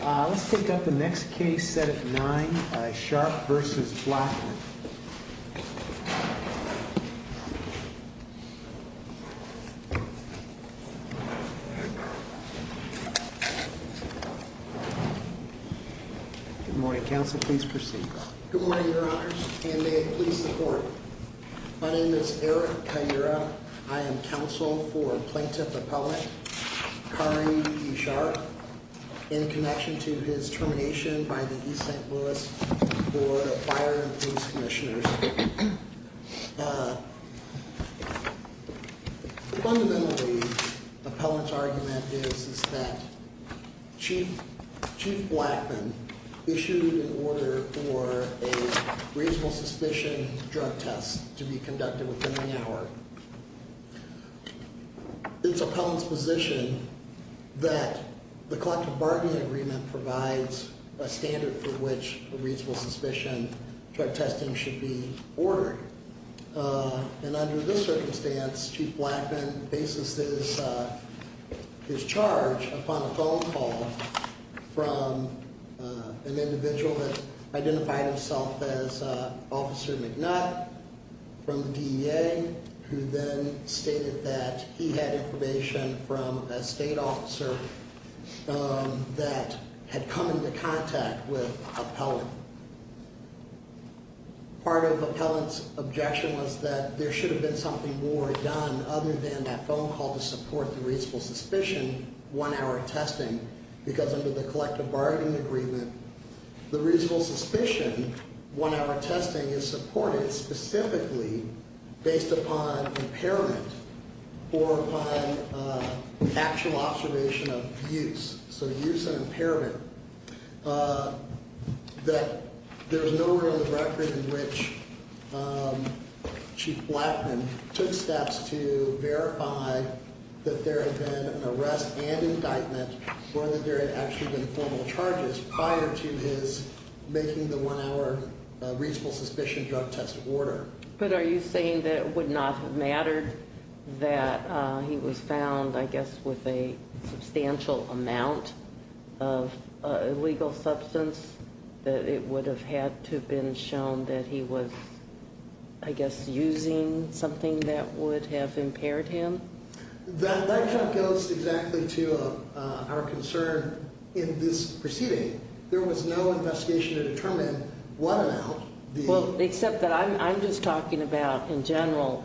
Let's pick up the next case, set at nine, Sharp v. Blackmon. Good morning, counsel, please proceed. Good morning, your honors, and may it please the court. My name is Eric Kaira. I am counsel for Plaintiff Appellant, Kari E. Sharp, in connection to his termination by the East St. Louis Board of Fire and Police Commissioners. Fundamentally, Appellant's argument is that Chief Blackmon issued an order for a reasonable suspicion drug test to be conducted within the hour. It's Appellant's position that the collective bargaining agreement provides a standard for which a reasonable suspicion drug testing should be ordered. And under this circumstance, Chief Blackmon faces his charge upon a phone call from an individual that identified himself as Officer McNutt from the DEA, who then stated that he had information from a state officer that had come into contact with Appellant. Part of Appellant's objection was that there should have been something more done other than that phone call to support the reasonable suspicion one-hour testing. Because under the collective bargaining agreement, the reasonable suspicion one-hour testing is supported specifically based upon impairment or upon actual observation of use. So use and impairment. That there was no record in which Chief Blackmon took steps to verify that there had been an arrest and indictment or that there had actually been formal charges prior to his making the one-hour reasonable suspicion drug test order. But are you saying that it would not have mattered that he was found, I guess, with a substantial amount of illegal substance? That it would have had to have been shown that he was, I guess, using something that would have impaired him? That goes exactly to our concern in this proceeding. There was no investigation to determine what amount. Well, except that I'm just talking about in general.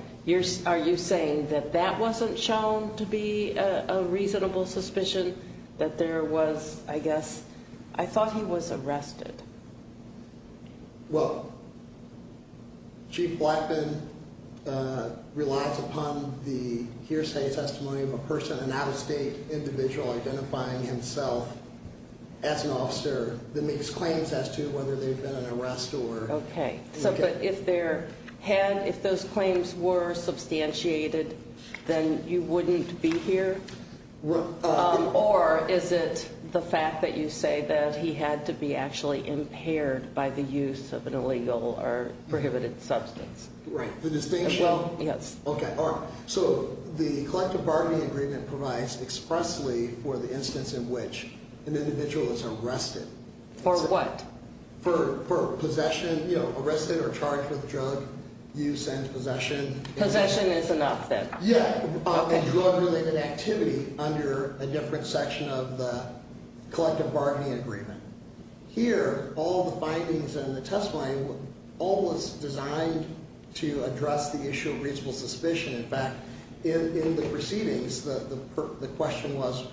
Are you saying that that wasn't shown to be a reasonable suspicion? That there was, I guess, I thought he was arrested. Well, Chief Blackmon relies upon the hearsay testimony of a person, an out-of-state individual identifying himself as an officer that makes claims as to whether they've been an arrest or... Okay. But if those claims were substantiated, then you wouldn't be here? Or is it the fact that you say that he had to be actually impaired by the use of an illegal or prohibited substance? Right. The distinction... Well, yes. Okay. All right. So the collective bargaining agreement provides expressly for the instance in which an individual is arrested. For what? For possession, you know, arrested or charged with drug use and possession. Possession is enough, then? Yeah. And drug-related activity under a different section of the collective bargaining agreement. Here, all the findings in the testimony, all was designed to address the issue of reasonable suspicion. In fact, in the proceedings, the question was,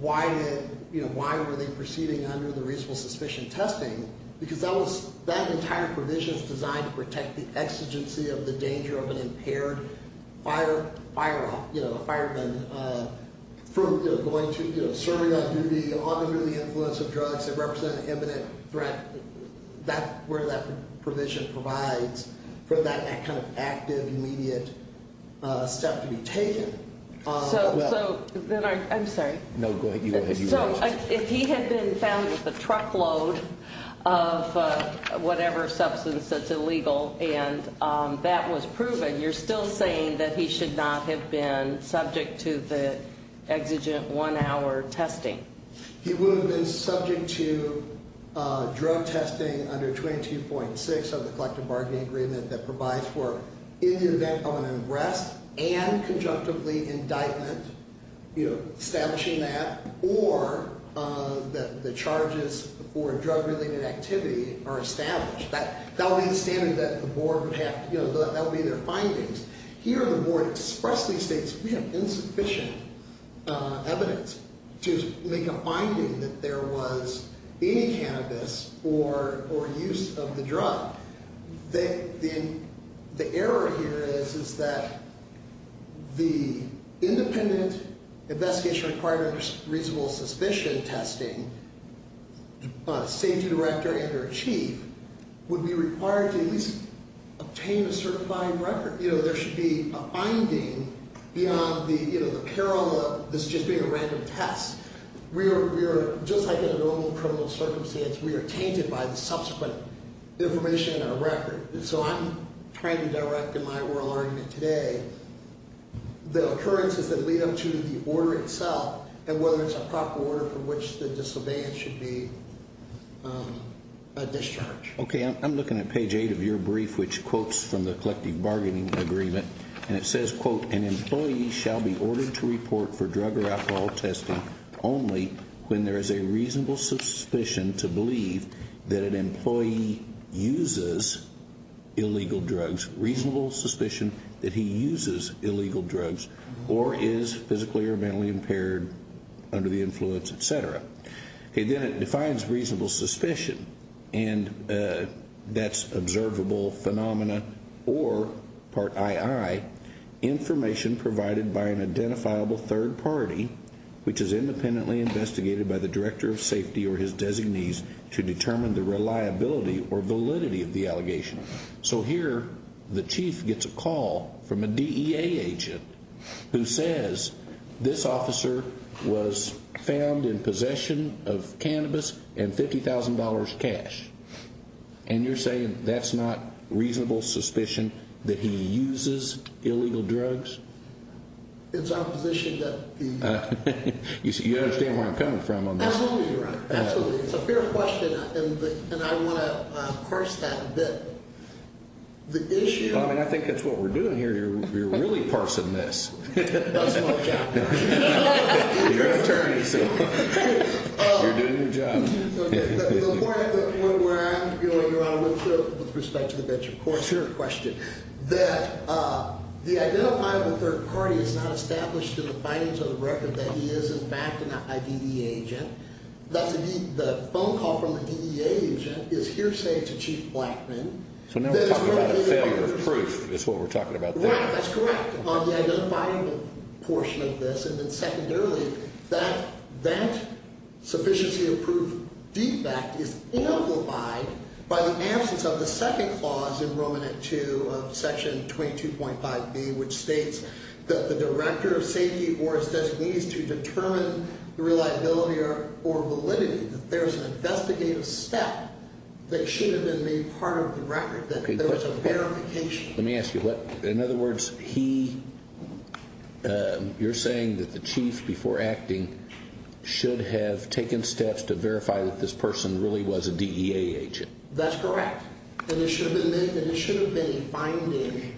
why were they proceeding under the reasonable suspicion testing? Because that entire provision is designed to protect the exigency of the danger of an impaired fireman from going to, you know, serving on duty, under the influence of drugs that represent an imminent threat. That's where that provision provides for that kind of active, immediate step to be taken. I'm sorry. No, go ahead. So if he had been found with a truckload of whatever substance that's illegal and that was proven, you're still saying that he should not have been subject to the exigent one-hour testing? He would have been subject to drug testing under 22.6 of the collective bargaining agreement that provides for any event of an arrest and conjunctively indictment, you know, establishing that, or that the charges for drug-related activity are established. That would be the standard that the board would have to, you know, that would be their findings. Here, the board expressedly states we have insufficient evidence to make a finding that there was any cannabis or use of the drug. The error here is that the independent investigation required under reasonable suspicion testing, safety director and their chief, would be required to at least obtain a certifying record. You know, there should be a finding beyond the, you know, the peril of this just being a random test. We are just like in a normal criminal circumstance. We are tainted by the subsequent information in our record. And so I'm trying to direct in my oral argument today the occurrences that lead up to the order itself and whether it's a proper order for which the disobedient should be discharged. Okay. I'm looking at page 8 of your brief which quotes from the collective bargaining agreement. And it says, quote, an employee shall be ordered to report for drug or alcohol testing only when there is a reasonable suspicion to believe that an employee uses illegal drugs, reasonable suspicion that he uses illegal drugs or is physically or mentally impaired under the influence, et cetera. Okay. Then it defines reasonable suspicion. And that's observable phenomena or, part II, information provided by an identifiable third party which is independently investigated by the director of safety or his designees to determine the reliability or validity of the allegation. So here the chief gets a call from a DEA agent who says, this officer was found in possession of cannabis and $50,000 cash. And you're saying that's not reasonable suspicion that he uses illegal drugs? It's our position that he is. You understand where I'm coming from on this? Absolutely, Your Honor. Absolutely. It's a fair question, and I want to parse that a bit. The issue of ---- Well, I mean, I think that's what we're doing here. You're really parsing this. That's my job. You're an attorney, so you're doing your job. Okay. The point that we're arguing, Your Honor, with respect to the venture court, your question, that the identifiable third party is not established in the findings of the record that he is, in fact, an IDE agent. The phone call from the DEA agent is hearsay to Chief Blackman. So now we're talking about a failure of proof is what we're talking about there. Right. That's correct. On the identifiable portion of this, and then secondarily, that that sufficiency of proof defect is amplified by the absence of the second clause in Roman at 2 of section 22.5B, which states that the director of safety or his designees to determine the reliability or validity that there is an investigative step that should have been made part of the record, that there was a verification. Let me ask you, in other words, you're saying that the chief before acting should have taken steps to verify that this person really was a DEA agent. That's correct. And it should have been a finding.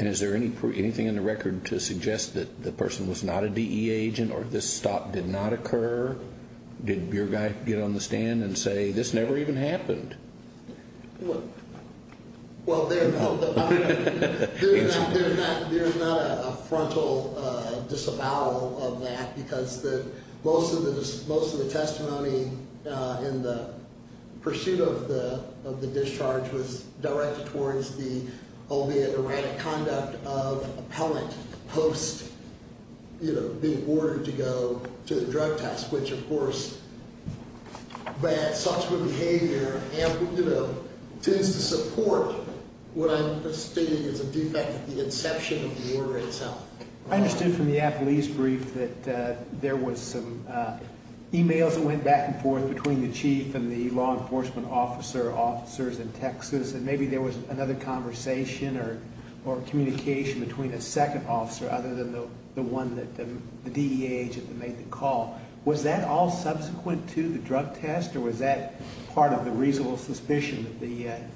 And is there anything in the record to suggest that the person was not a DEA agent or this stop did not occur? Did your guy get on the stand and say, this never even happened? Well, there is not a frontal disavowal of that because most of the testimony in the pursuit of the discharge was directed towards the, albeit erratic, conduct of appellant post being ordered to go to the drug test, which, of course, bad social behavior tends to support what I'm stating is a defect at the inception of the order itself. I understood from the appellee's brief that there was some e-mails that went back and forth between the chief and the law enforcement officer, officers in Texas, and maybe there was another conversation or communication between a second officer other than the one that the DEA agent made the call. Was that all subsequent to the drug test, or was that part of the reasonable suspicion that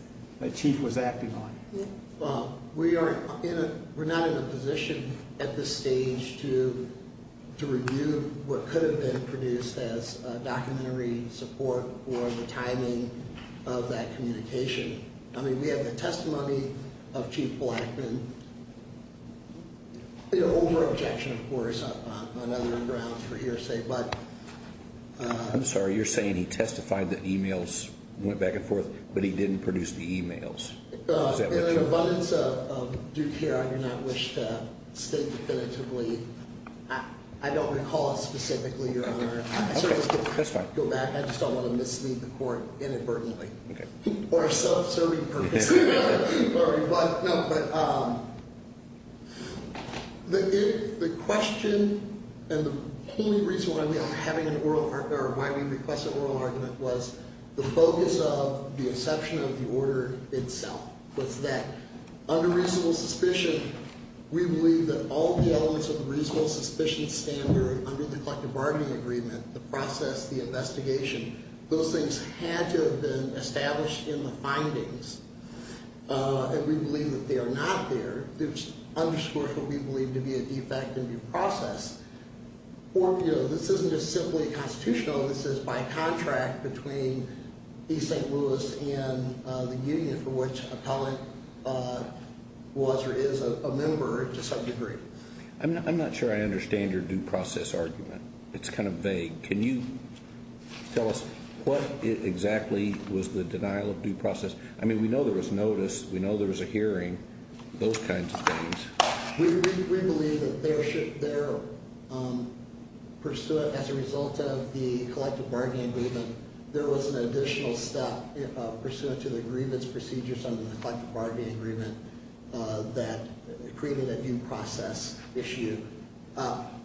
the chief was acting on? We're not in a position at this stage to review what could have been produced as documentary support for the timing of that communication. I mean, we have the testimony of Chief Blackman, over-objection, of course, on other grounds for hearsay. I'm sorry. You're saying he testified that e-mails went back and forth, but he didn't produce the e-mails. In an abundance of due care, I do not wish to state definitively. I don't recall it specifically, Your Honor. Okay. That's fine. I just don't want to mislead the court inadvertently. Okay. Or a self-serving purpose. Sorry. No, but the question and the only reason why we request an oral argument was the focus of the inception of the order itself, was that under reasonable suspicion, we believe that all the elements of the reasonable suspicion standard under the collective bargaining agreement, the process, the investigation, those things had to have been established in the findings. And we believe that they are not there, which underscores what we believe to be a defect in the process. This isn't just simply constitutional. This is by contract between East St. Louis and the union, for which an appellant was or is a member to some degree. I'm not sure I understand your due process argument. It's kind of vague. Can you tell us what exactly was the denial of due process? I mean, we know there was notice. We know there was a hearing. Those kinds of things. We believe that their pursuit as a result of the collective bargaining agreement, there was an additional step pursuant to the agreements procedures under the collective bargaining agreement that created a due process issue.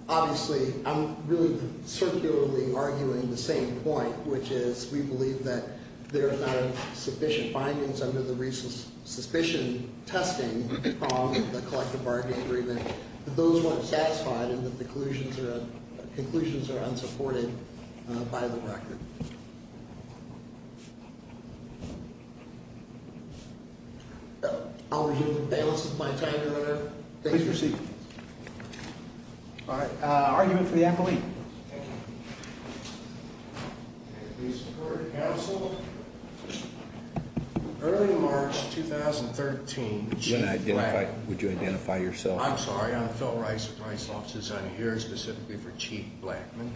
Obviously, I'm really circularly arguing the same point, which is we believe that there are not sufficient findings under the reasonable suspicion testing from the collective bargaining agreement that those weren't satisfied and that the conclusions are unsupported by the record. Thank you. I'll review the balance of my time, Your Honor. Please proceed. All right. Argument for the appellee. Thank you. Please report to counsel. Early March 2013, Chief Blackman. Would you identify yourself? I'm sorry. I'm Phil Rice with Rice Law Society here specifically for Chief Blackman.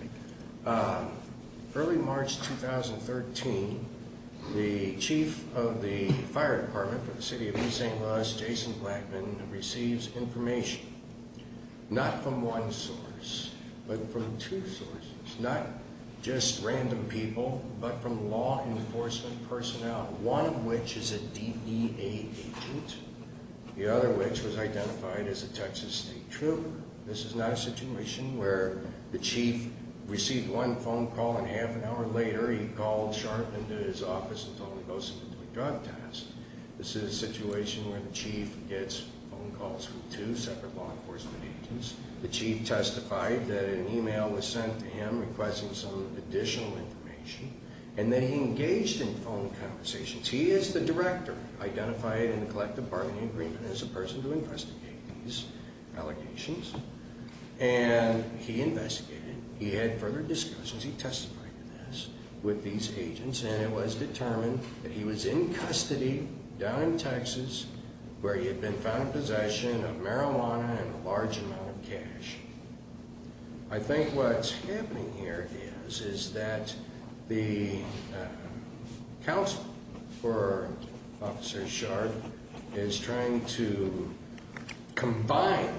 Early March 2013, the Chief of the Fire Department for the City of East St. Louis, Jason Blackman, receives information, not from one source, but from two sources, not just random people, but from law enforcement personnel, one of which is a DEA agent, the other which was identified as a Texas State Trooper. This is not a situation where the Chief received one phone call and half an hour later he called Sharp and his office and told them he was going to do a drug test. This is a situation where the Chief gets phone calls from two separate law enforcement agents. The Chief testified that an email was sent to him requesting some additional information, and then he engaged in phone conversations. He is the director identified in the collective bargaining agreement as a person to investigate these allegations, and he investigated. He had further discussions. He testified to this with these agents, and it was determined that he was in custody down in Texas where he had been found in possession of marijuana and a large amount of cash. I think what's happening here is that the counsel for Officer Sharp is trying to combine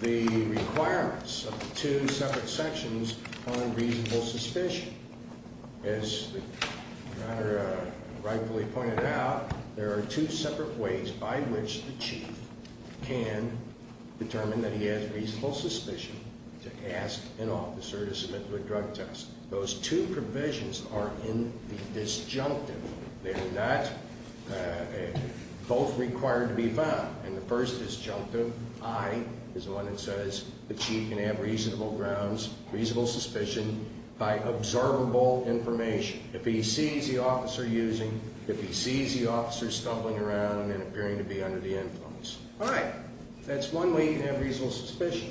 the requirements of the two separate sections on reasonable suspicion. As the matter rightfully pointed out, there are two separate ways by which the Chief can determine that he has reasonable suspicion to ask an officer to submit to a drug test. Those two provisions are in the disjunctive. They are not both required to be found. And the first disjunctive, I, is the one that says the Chief can have reasonable grounds, reasonable suspicion by observable information. If he sees the officer using, if he sees the officer stumbling around and appearing to be under the influence. All right, that's one way you can have reasonable suspicion.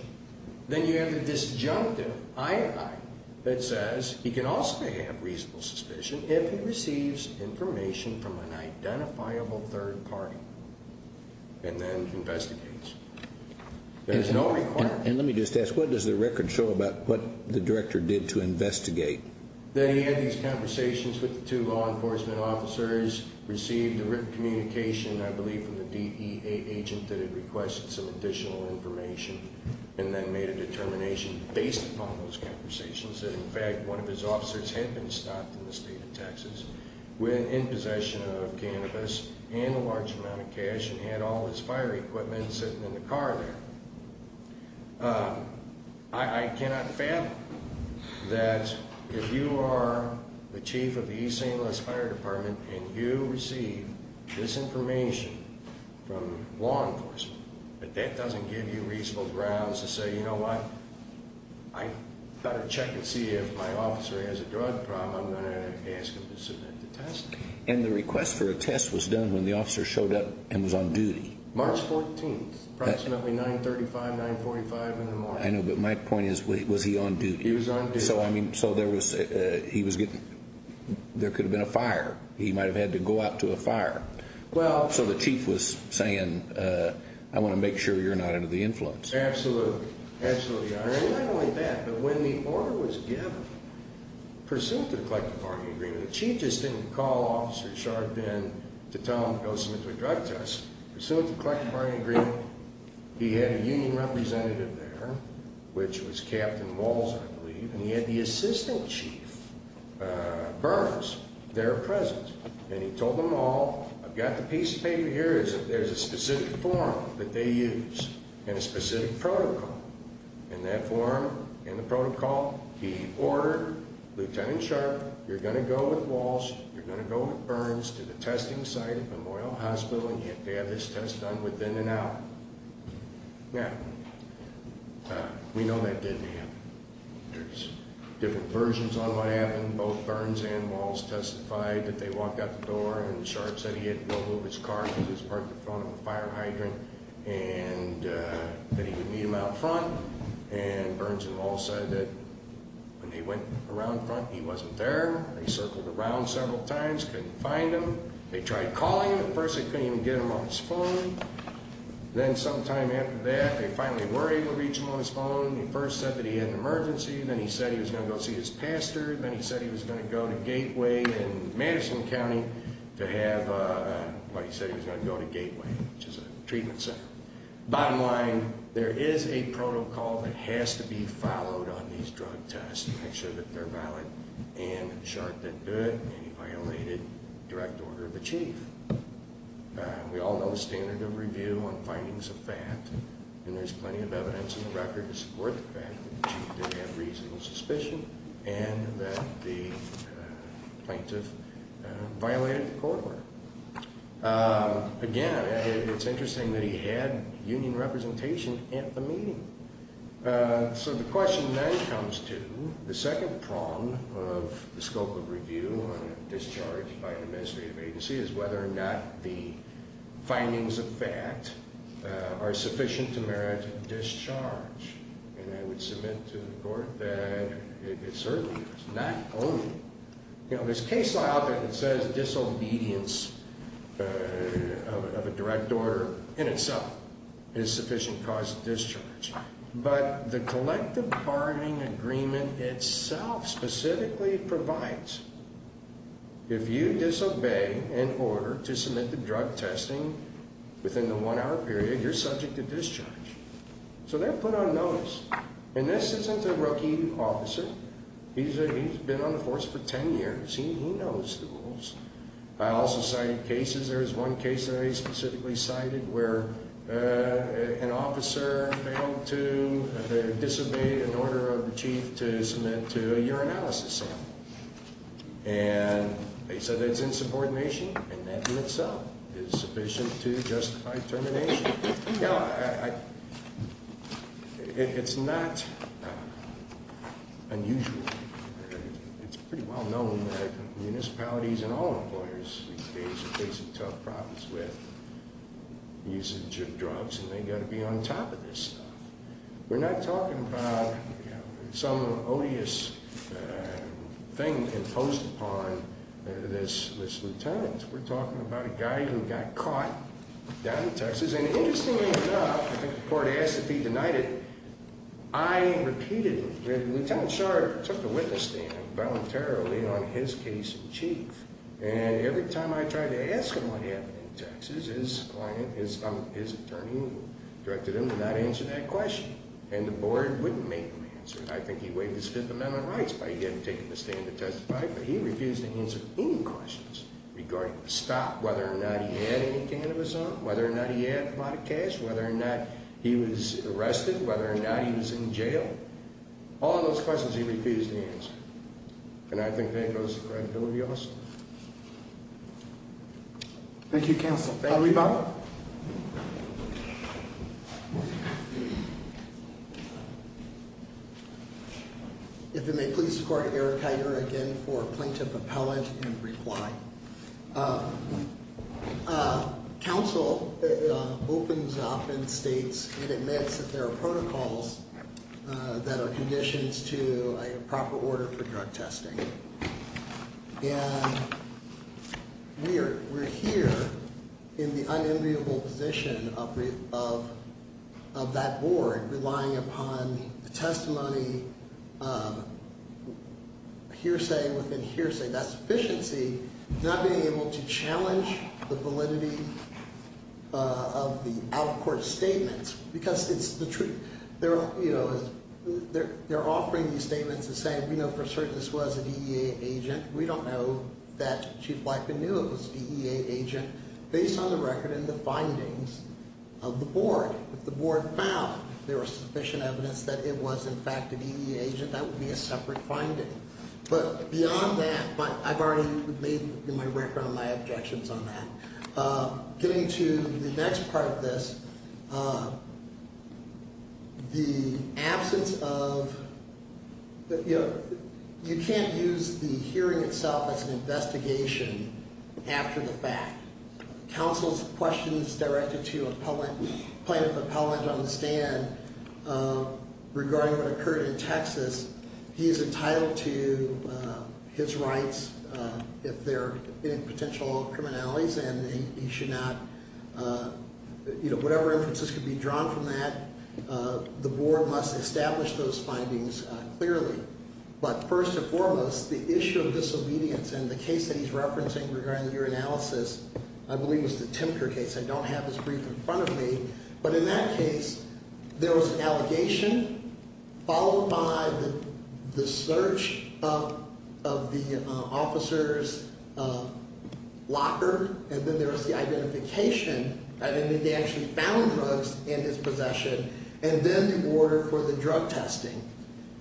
Then you have the disjunctive, I, that says he can also have reasonable suspicion if he receives information from an identifiable third party and then investigates. There is no requirement. And let me just ask, what does the record show about what the director did to investigate? That he had these conversations with the two law enforcement officers, received the written communication, I believe, from the DEA agent that had requested some additional information, and then made a determination based upon those conversations that in fact one of his officers had been stopped in the state of Texas, went in possession of cannabis and a large amount of cash and had all his fire equipment sitting in the car there. I cannot fathom that if you are the Chief of the East St. Louis Fire Department and you receive this information from law enforcement that that doesn't give you reasonable grounds to say, you know what, I've got to check and see if my officer has a drug problem and I'm going to ask him to submit the test. And the request for a test was done when the officer showed up and was on duty. March 14th, approximately 9.35, 9.45 in the morning. I know, but my point is, was he on duty? He was on duty. So there could have been a fire. He might have had to go out to a fire. So the Chief was saying, I want to make sure you're not under the influence. Absolutely, absolutely. And not only that, but when the order was given, pursuant to the collective bargaining agreement, the Chief just didn't call Officer Sharp in to tell him to go submit to a drug test. Pursuant to the collective bargaining agreement, he had a union representative there, which was Captain Walls, I believe, and he had the Assistant Chief Burns there present. And he told them all, I've got the piece of paper here, there's a specific form that they use and a specific protocol. And that form and the protocol, he ordered Lieutenant Sharp, you're going to go with Walls, you're going to go with Burns to the testing site at Memorial Hospital, and you have to have this test done within an hour. Now, we know that didn't happen. There's different versions on what happened. Both Burns and Walls testified that they walked out the door and Sharp said he had no move his car because he was parked in front of a fire hydrant and that he would meet him out front. And Burns and Walls said that when they went around front, he wasn't there. They circled around several times, couldn't find him. They tried calling him at first. They couldn't even get him on his phone. Then sometime after that, they finally were able to reach him on his phone. He first said that he had an emergency. Then he said he was going to go see his pastor. Then he said he was going to go to Gateway in Madison County to have, well, he said he was going to go to Gateway, which is a treatment center. Bottom line, there is a protocol that has to be followed on these drug tests to make sure that they're valid, and Sharp didn't do it, and he violated direct order of the chief. We all know the standard of review on findings of fact, and there's plenty of evidence in the record to support the fact that the chief did have reasonable suspicion and that the plaintiff violated the court order. Again, it's interesting that he had union representation at the meeting. So the question then comes to the second prong of the scope of review on a discharge by an administrative agency is whether or not the findings of fact are sufficient to merit a discharge, and I would submit to the court that it certainly is, not only. There's case law out there that says disobedience of a direct order in itself is sufficient cause of discharge, but the collective bargaining agreement itself specifically provides if you disobey an order to submit the drug testing within the one-hour period, you're subject to discharge. So they're put on notice, and this isn't a rookie officer. He's been on the force for 10 years. He knows the rules. I also cited cases. There's one case that I specifically cited where an officer failed to disobey an order of the chief to submit to a urinalysis sample, and they said that it's insubordination, and that in itself is sufficient to justify termination. It's not unusual. It's pretty well known that municipalities and all employers these days are facing tough problems with usage of drugs, and they've got to be on top of this stuff. We're not talking about some odious thing imposed upon this lieutenant. We're talking about a guy who got caught down in Texas, and interestingly enough, I think the court has to be denied it, I repeated it. Lieutenant Sharr took the witness stand voluntarily on his case in chief, and every time I tried to ask him what happened in Texas, his client, his attorney, directed him to not answer that question, and the board wouldn't make him answer it. I think he waived his Fifth Amendment rights by taking the stand to testify, but he refused to answer any questions regarding the stop, whether or not he had any cannabis on, whether or not he had a lot of cash, whether or not he was arrested, whether or not he was in jail. All those questions he refused to answer, and I think that goes to credibility also. Thank you, counsel. Thank you. If it may please the court, Eric Heider again for plaintiff appellant in reply. Counsel opens up and states and admits that there are protocols that are conditions to a proper order for drug testing. We're here in the unenviable position of that board, relying upon the testimony, hearsay within hearsay, that's efficiency, not being able to challenge the validity of the out-of-court statements, because it's the truth. They're offering these statements and saying, we know for certain this was a DEA agent. We don't know that Chief Blyken knew it was a DEA agent, based on the record and the findings of the board. If the board found there was sufficient evidence that it was in fact a DEA agent, that would be a separate finding. But beyond that, I've already made in my record my objections on that. Getting to the next part of this, the absence of, you know, you can't use the hearing itself as an investigation after the fact. Counsel's questions directed to plaintiff appellant on the stand regarding what occurred in Texas, he is entitled to his rights if there are any potential criminalities, and he should not, you know, whatever inferences could be drawn from that, the board must establish those findings clearly. But first and foremost, the issue of disobedience and the case that he's referencing regarding your analysis, I believe it's the Timker case, I don't have his brief in front of me, but in that case, there was an allegation, followed by the search of the officer's locker, and then there was the identification, and then they actually found drugs in his possession, and then the order for the drug testing.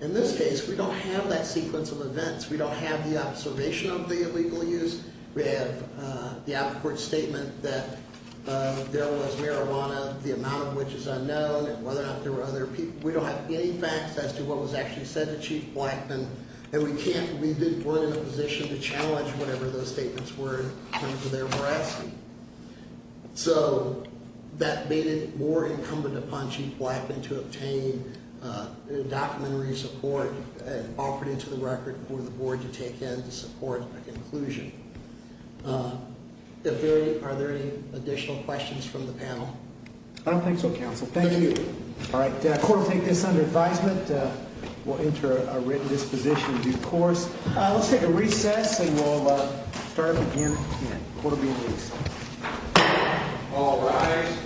In this case, we don't have that sequence of events. We don't have the observation of the illegal use. We have the appellate court statement that there was marijuana, the amount of which is unknown, and whether or not there were other people. We don't have any facts as to what was actually said to Chief Blackman, and we can't, we weren't in a position to challenge whatever those statements were in terms of their veracity. So, that made it more incumbent upon Chief Blackman to obtain documentary support and offer it to the record for the board to take in to support an inclusion. Are there any additional questions from the panel? I don't think so, counsel. Thank you. All right, the court will take this under advisement. We'll enter a written disposition in due course. Let's take a recess, and we'll start again in a quarter of an hour. All rise.